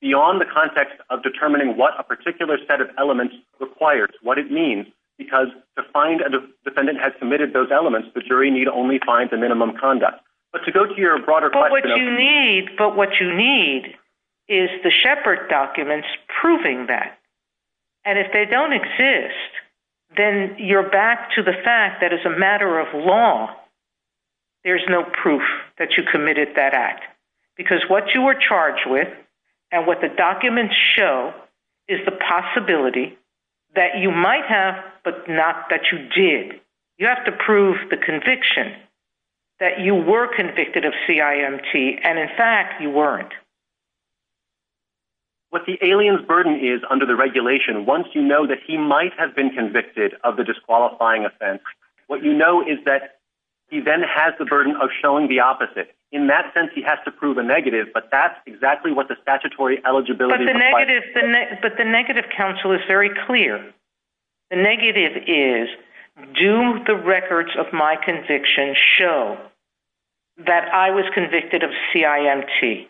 beyond the context of determining what a particular set of elements requires, what it means, because to find a defendant has submitted those elements, the jury need only find the minimum conduct. But to go to your broader question of... But what you need is the Shepard documents proving that. And if they don't exist, then you're back to the fact that as a matter of law, there's no proof that you committed that act. Because what you were charged with and what the documents show is the possibility that you might have, but not that you did. You have to prove the conviction that you were convicted of CIMT. And in fact, you weren't. What the alien's burden is under the regulation, once you know that he might have been convicted of the disqualifying offense, what you know is that he then has the burden of showing the opposite. In that sense, he has to prove a negative, but that's exactly what the statutory eligibility requires. But the negative counsel is very clear. The negative is, do the records of my conviction show that I was convicted of CIMT?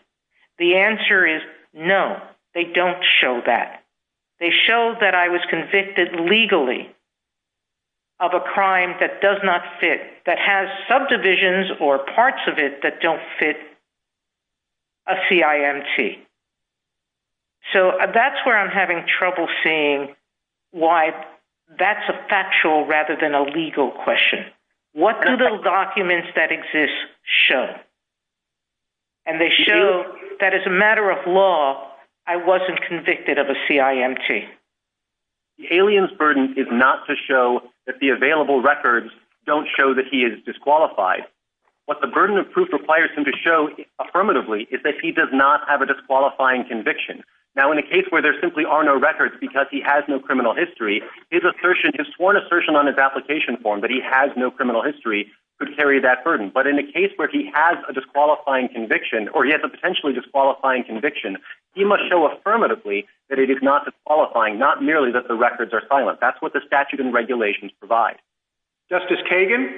The answer is no, they don't show that. They show that I was convicted legally of a crime that does not fit, that has subdivisions or parts of it that don't fit a CIMT. So that's where I'm having trouble seeing why that's a factual rather than a legal question. What do the documents that exist show? And they show that as a matter of law, I wasn't convicted of a CIMT. The alien's burden is not to show that the available records don't show that he is disqualified. What the burden of proof requires him to show affirmatively is that he does not have a disqualifying conviction. Now, in a case where there simply are no records because he has no criminal history, his sworn assertion on his application form that he has no criminal history could carry that burden. But in a case where he has a disqualifying conviction, or he has a potentially disqualifying conviction, he must show affirmatively that it is not disqualifying, not merely that the records are silent. That's what the statute and regulations provide. Justice Kagan?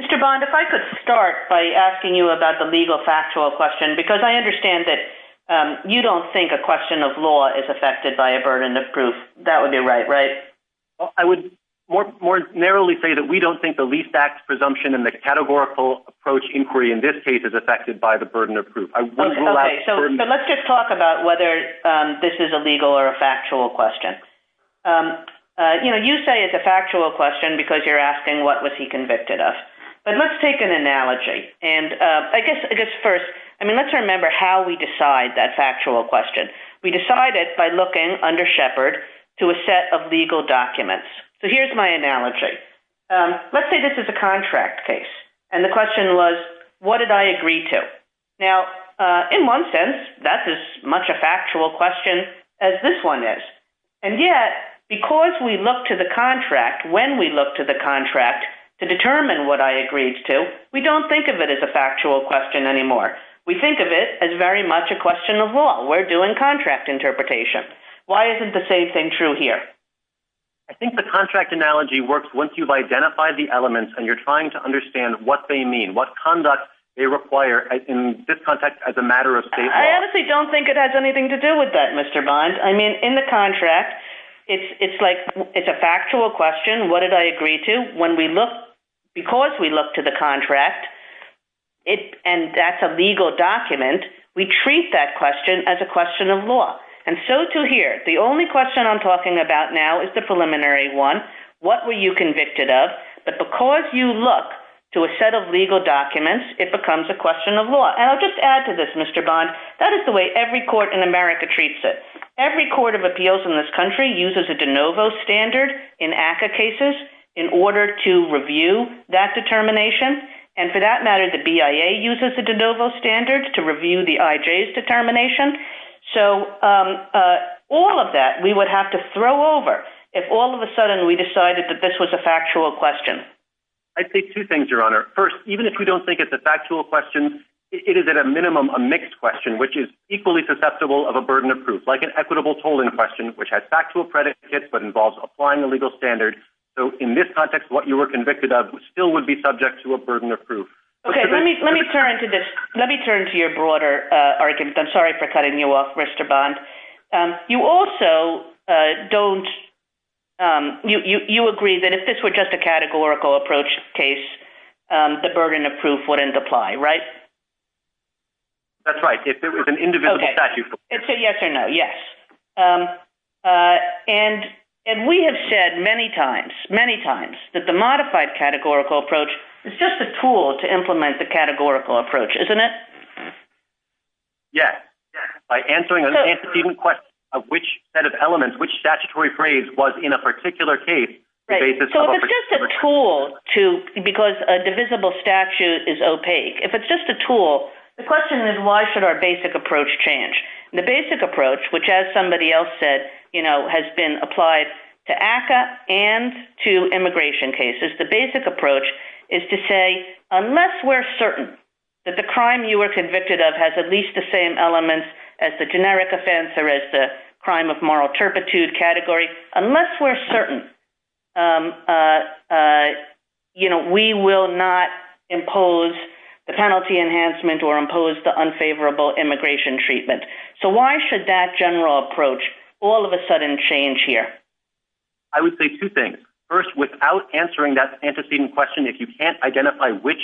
Mr. Bond, if I could start by asking you about the legal factual question, because I understand that you don't think a question of law is affected by a burden of proof. That would be right, right? I would more narrowly say that we don't think the least backed presumption in the categorical approach inquiry in this case is affected by the burden of proof. Let's just talk about whether this is a legal or a factual question. You say it's a factual question because you're asking what was he convicted of. But let's take an analogy. First, let's remember how we decide that factual question. We decided by looking under Shepard to a set of legal documents. Here's my analogy. Let's say this is a contract case. The question was, what did I agree to? In one sense, that's as much a factual question as this one is. Yet, because we look to the we don't think of it as a factual question anymore. We think of it as very much a question of law. We're doing contract interpretation. Why isn't the same thing true here? I think the contract analogy works once you've identified the elements and you're trying to understand what they mean, what conduct they require in this context as a matter of safety. I honestly don't think it has anything to do with that, Mr. Bond. I mean, in the contract, it's like it's a factual question. What did I agree to? Because we look to the contract and that's a legal document, we treat that question as a question of law. And so to here, the only question I'm talking about now is the preliminary one. What were you convicted of? But because you look to a set of legal documents, it becomes a question of law. And I'll just add to this, Mr. Bond, that is the way every court in America treats it. Every court of appeals in this uses a de novo standard in ACCA cases in order to review that determination. And for that matter, the BIA uses a de novo standard to review the IJ's determination. So all of that we would have to throw over if all of a sudden we decided that this was a factual question. I'd say two things, Your Honor. First, even if we don't think it's a factual question, it is at a minimum a mixed question, which is equally susceptible of a burden of proof, like an equitable tolling question, which has factual predicates but involves applying the legal standard. So in this context, what you were convicted of still would be subject to a burden of proof. Okay, let me turn to this. Let me turn to your broader argument. I'm sorry for cutting you off, Mr. Bond. You also don't, you agree that if this were just a categorical approach case, the burden of proof wouldn't apply, right? That's right. If it was an indivisible statute. Okay. It's a yes or no. Yes. And we have said many times, many times, that the modified categorical approach is just a tool to implement the categorical approach, isn't it? Yes. By answering an antecedent question of which set of elements, which statutory phrase was in a tool to, because a divisible statute is opaque. If it's just a tool, the question is, why should our basic approach change? The basic approach, which as somebody else said, has been applied to ACA and to immigration cases. The basic approach is to say, unless we're certain that the crime you were convicted of has at least the same elements as the generic offense or as the moral turpitude category, unless we're certain, we will not impose the penalty enhancement or impose the unfavorable immigration treatment. So why should that general approach all of a sudden change here? I would say two things. First, without answering that antecedent question, if you can't identify which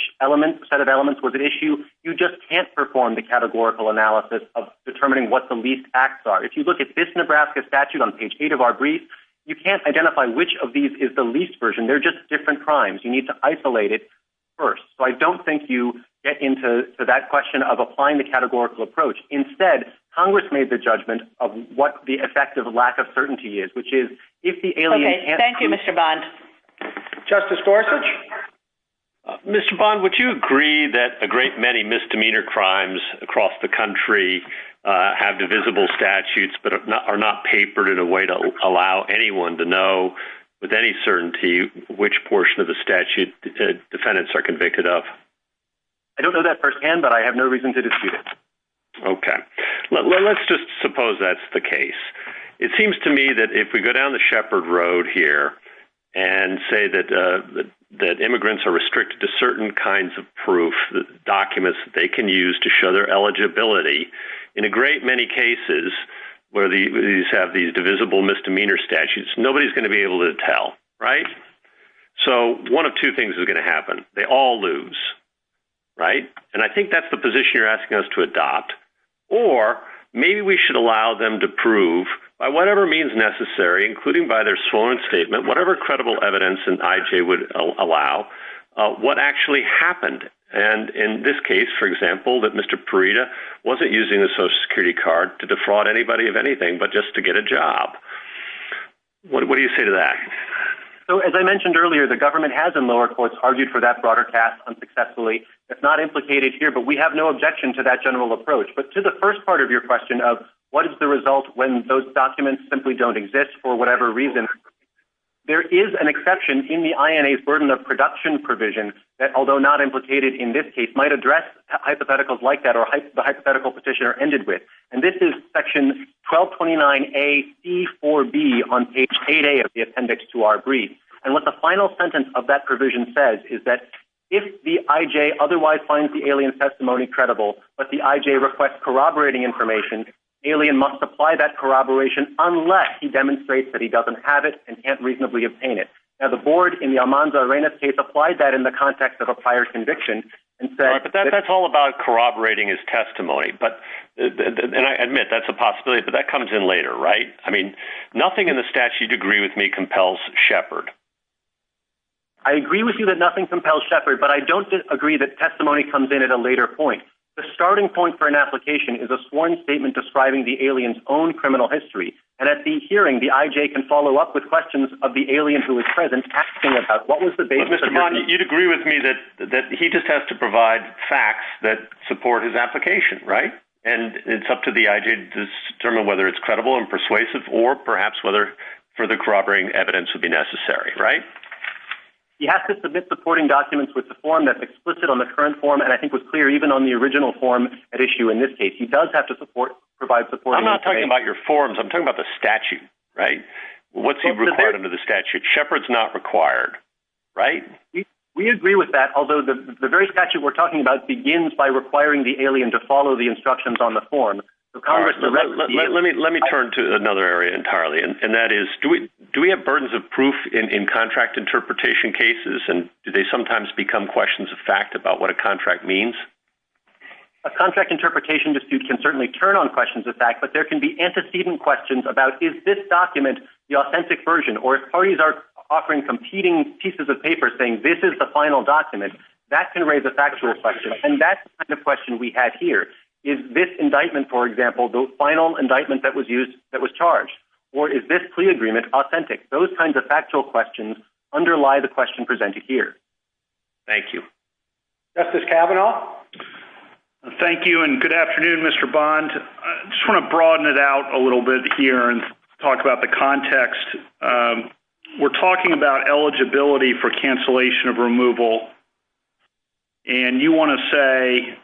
set of elements was an issue, you just can't perform the categorical analysis of determining what the least acts are. If you look at this Nebraska statute on page eight of our brief, you can't identify which of these is the least version. They're just different crimes. You need to isolate it first. So I don't think you get into that question of applying the categorical approach. Instead, Congress made the judgment of what the effect of lack of certainty is, which is if the alien- Okay. Thank you, Mr. Bond. Justice Gorsuch? Mr. Bond, would you agree that a great many misdemeanor crimes across the country have invisible statutes, but are not papered in a way to allow anyone to know with any certainty which portion of the statute defendants are convicted of? I don't know that firsthand, but I have no reason to dispute it. Okay. Well, let's just suppose that's the case. It seems to me that if we go down the shepherd road here and say that immigrants are restricted to certain kinds of proof, documents that they can use to show their eligibility, in a great many cases where these have these divisible misdemeanor statutes, nobody's going to be able to tell, right? So one of two things is going to happen. They all lose, right? And I think that's the position you're asking us to adopt. Or maybe we should allow them to prove by whatever means necessary, including by their sworn statement, whatever credible evidence an IJ would allow, what actually happened. And in this case, for example, that Mr. Parita wasn't using the social security card to defraud anybody of anything, but just to get a job. What do you say to that? So, as I mentioned earlier, the government has in lower courts argued for that broader task unsuccessfully. It's not implicated here, but we have no objection to that general approach. But to the first part of your question of what is the result when those documents simply don't exist for whatever reason, there is an exception in the INA's burden of production provision that, although not implicated in this case, might address hypotheticals like that or the hypothetical petitioner ended with. And this is section 1229A, C4B on page 8A of the appendix to our brief. And what the final sentence of that provision says is that if the IJ otherwise finds the alien testimony credible, but the IJ requests corroborating information, alien must apply that corroboration unless he demonstrates that he doesn't have it and can't reasonably obtain it. Now, the board in the Almanza-Arena case applied that in the context of a prior conviction and said- But that's all about corroborating his testimony. And I admit that's a possibility, but that comes in later, right? I mean, nothing in the statute agree with me compels Shepard. I agree with you that nothing compels Shepard, but I don't agree that testimony comes in at a later point. The starting point for an application is a sworn statement describing the alien's own criminal history. And at the hearing, the IJ can follow up with questions of the alien who is present asking about what was the basis- Mr. Bond, you'd agree with me that he just has to provide facts that support his application, right? And it's up to the IJ to determine whether it's credible and persuasive or perhaps whether further corroborating evidence would be necessary, right? He has to submit supporting documents with the form that's explicit on the current form, and I think was clear even on the original form at issue in this case. He does have to provide support- I'm not talking about your forms. I'm talking about the statute, right? What's he required under the statute? Shepard's not required, right? We agree with that, although the very statute we're talking about begins by requiring the alien to follow the instructions on the form. So Congress- Let me turn to another area entirely, and that is, do we have burdens of proof in contract interpretation cases? And do they sometimes become questions of fact about what a contract means? A contract interpretation dispute can certainly turn on questions of fact, but there can be antecedent questions about, is this document the authentic version? Or if parties are offering competing pieces of paper saying, this is the final document, that can raise a factual question. And that's the kind of question we have here. Is this indictment, for example, the final indictment that was used, that was charged? Or is this plea agreement authentic? Those kinds of factual questions underlie the question presented here. Thank you. Justice Kavanaugh? Thank you, and good afternoon, Mr. Bond. I just want to broaden it out a little bit here and talk about the context. We're talking about eligibility for cancellation of removal, and you want to say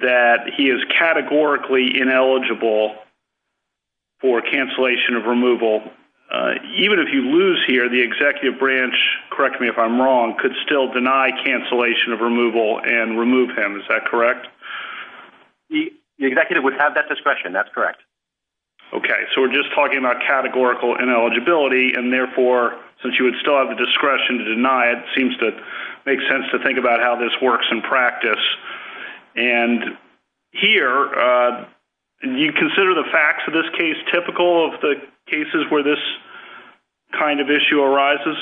that he is categorically ineligible for cancellation of removal. Even if you lose here, the executive branch, correct me if I'm wrong, could still deny cancellation of removal and remove him. Is that correct? The executive would have that discretion. That's correct. Okay. So we're just talking about categorical ineligibility, and therefore, since you would still have the discretion to deny it, it seems to make sense to think about how this works in practice. And here, do you consider the facts of this case typical of the cases where this kind of issue arises?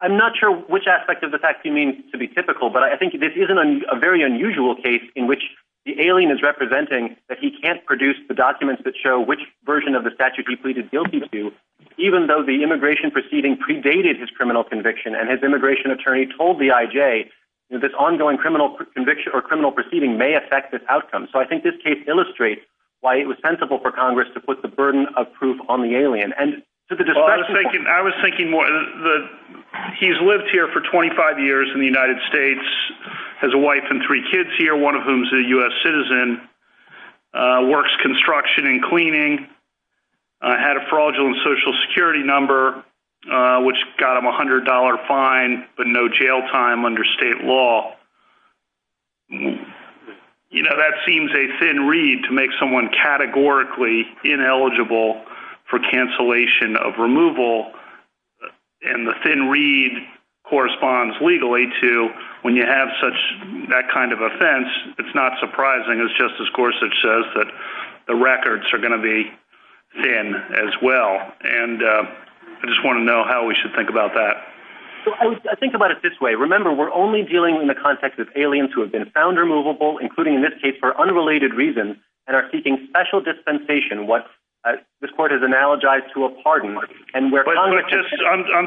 I'm not sure which aspect of the facts you mean to be typical, but I think this isn't a very unusual case in which the alien is representing that he can't produce the documents that show which version of the statute he pleaded guilty to, even though the immigration proceeding predated his criminal conviction, and his immigration attorney told the IJ that this ongoing criminal proceeding may affect this outcome. So I think this case illustrates why it was sensible for Congress to put the burden of proof on the alien. And to the discretion point- I was thinking that he's lived here for 25 years in the United States, has a wife and three kids here, one of whom is a U.S. citizen, works construction and cleaning, had a fraudulent Social Security number, which got him a $100 fine, but no jail time under state law. You know, that seems a thin reed to make someone categorically ineligible for cancellation of and the thin reed corresponds legally to when you have such that kind of offense, it's not surprising as Justice Gorsuch says that the records are going to be thin as well. And I just want to know how we should think about that. I think about it this way. Remember, we're only dealing in the context of aliens who have been found removable, including in this case for unrelated reasons, and are seeking special dispensation. This court has analogized to a pardon. I'm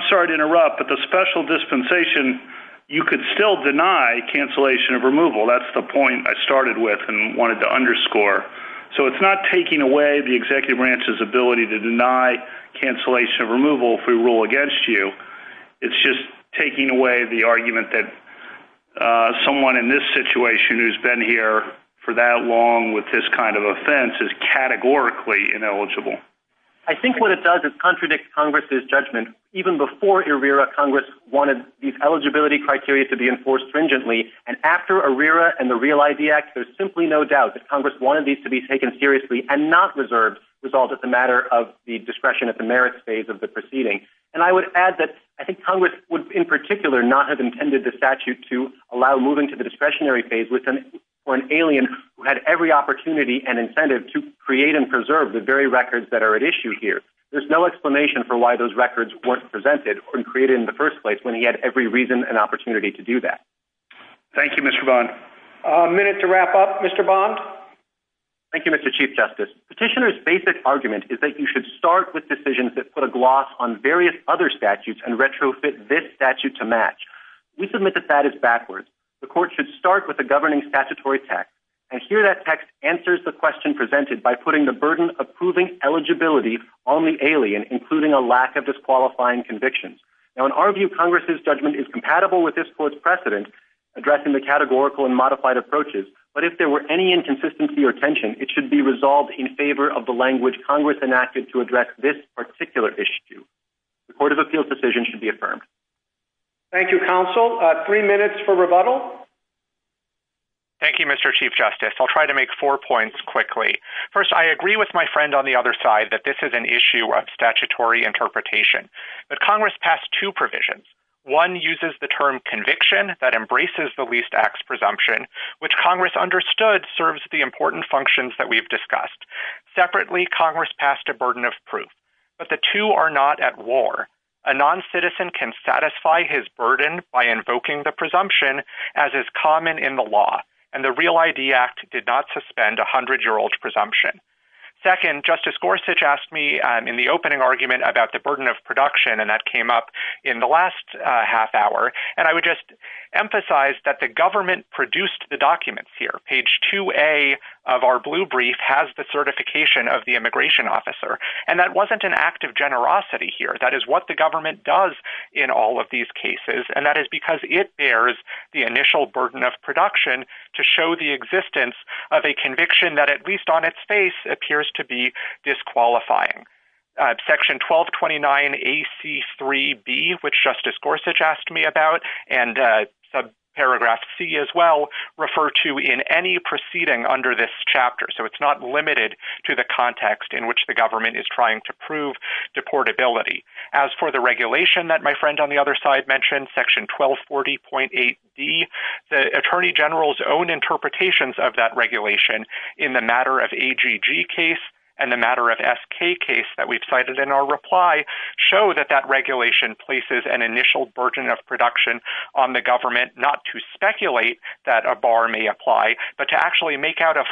sorry to interrupt, but the special dispensation, you could still deny cancellation of removal. That's the point I started with and wanted to underscore. So it's not taking away the executive branch's ability to deny cancellation of removal if we rule against you. It's just taking away the argument that someone in this situation who's been here for that long with this kind of offense is categorically ineligible. I think what it does is contradict Congress's judgment. Even before ERIRA, Congress wanted these eligibility criteria to be enforced stringently. And after ERIRA and the Real ID Act, there's simply no doubt that Congress wanted these to be taken seriously and not reserved, resolved as a matter of the discretion at the merits phase of the proceeding. And I would add that I think Congress would in particular not have intended the statute to allow moving to the discretionary phase with them or an alien who had every opportunity and incentive to create and preserve the very records that are at issue here. There's no explanation for why those records weren't presented or created in the first place when he had every reason and opportunity to do that. Thank you, Mr. Bond. A minute to wrap up, Mr. Bond. Thank you, Mr. Chief Justice. Petitioner's basic argument is that you should start with decisions that put a gloss on various other statutes and retrofit this statute to match. We submit that is backwards. The court should start with a governing statutory text. And here that text answers the question presented by putting the burden of proving eligibility on the alien, including a lack of disqualifying convictions. Now, in our view, Congress's judgment is compatible with this court's precedent, addressing the categorical and modified approaches. But if there were any inconsistency or tension, it should be resolved in favor of the language Congress enacted to address this particular issue. The Court of Appeals decision should be affirmed. Thank you, Counsel. Three minutes for rebuttal. Thank you, Mr. Chief Justice. I'll try to make four points quickly. First, I agree with my friend on the other side that this is an issue of statutory interpretation. But Congress passed two provisions. One uses the term conviction that embraces the least acts presumption, which Congress understood serves the important functions that we've discussed. Separately, Congress passed a burden of proof, but the two are not at war. A non-citizen can satisfy his burden by invoking the presumption as is common in the law. And the Real ID Act did not suspend 100-year-old presumption. Second, Justice Gorsuch asked me in the opening argument about the burden of production, and that came up in the last half hour. And I would just emphasize that the government produced the documents here. Page 2A of our blue brief has the certification of the immigration officer. And that wasn't an act of generosity here. That is what the government does in all of these cases. And that is because it bears the initial burden of production to show the existence of a conviction that at least on its face appears to be disqualifying. Section 1229 AC3B, which Justice Gorsuch asked me about, and subparagraph C as well, refer to in any proceeding under this chapter. So it's not limited to the context in which the government is trying to prove deportability. As for the regulation that my friend on the other side mentioned, Section 1240.8d, the Attorney General's own interpretations of that regulation in the matter of AGG case, and the matter of SK case that we've cited in our reply, show that that regulation places an initial burden of production on the government not to speculate that a bar may apply, but to actually make out a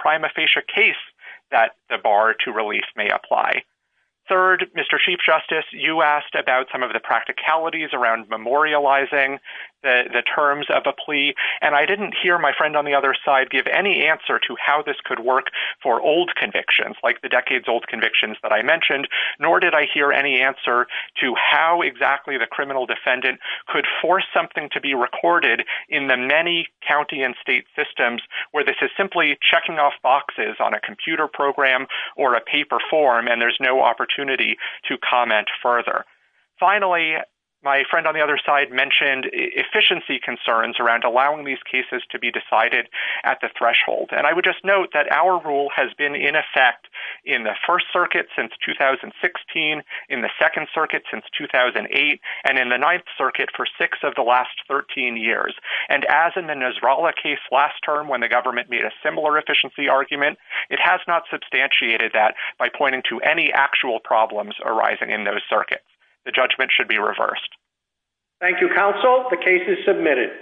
prima facie case that the bar to release may apply. Third, Mr. Chief Justice, you asked about some of the practicalities around memorializing the terms of a plea. And I didn't hear my friend on the other side give any answer to how this could work for old convictions, like the decades old convictions that I mentioned, nor did I hear any answer to how exactly the criminal defendant could force something to be recorded in the many county and state systems where this is simply checking off boxes on a computer program, or a paper form, and there's no opportunity to comment further. Finally, my friend on the other side mentioned efficiency concerns around allowing these cases to be decided at the threshold. And I would just note that our rule has been in effect in the First Circuit since 2016, in the Second Circuit since 2008, and in the Ninth Circuit for six of the last 13 years. And as in the Nasrallah case last term, when the government made a similar efficiency argument, it has not substantiated that by pointing to any actual problems arising in those circuits. The judgment should be reversed. Thank you, counsel. The case is submitted.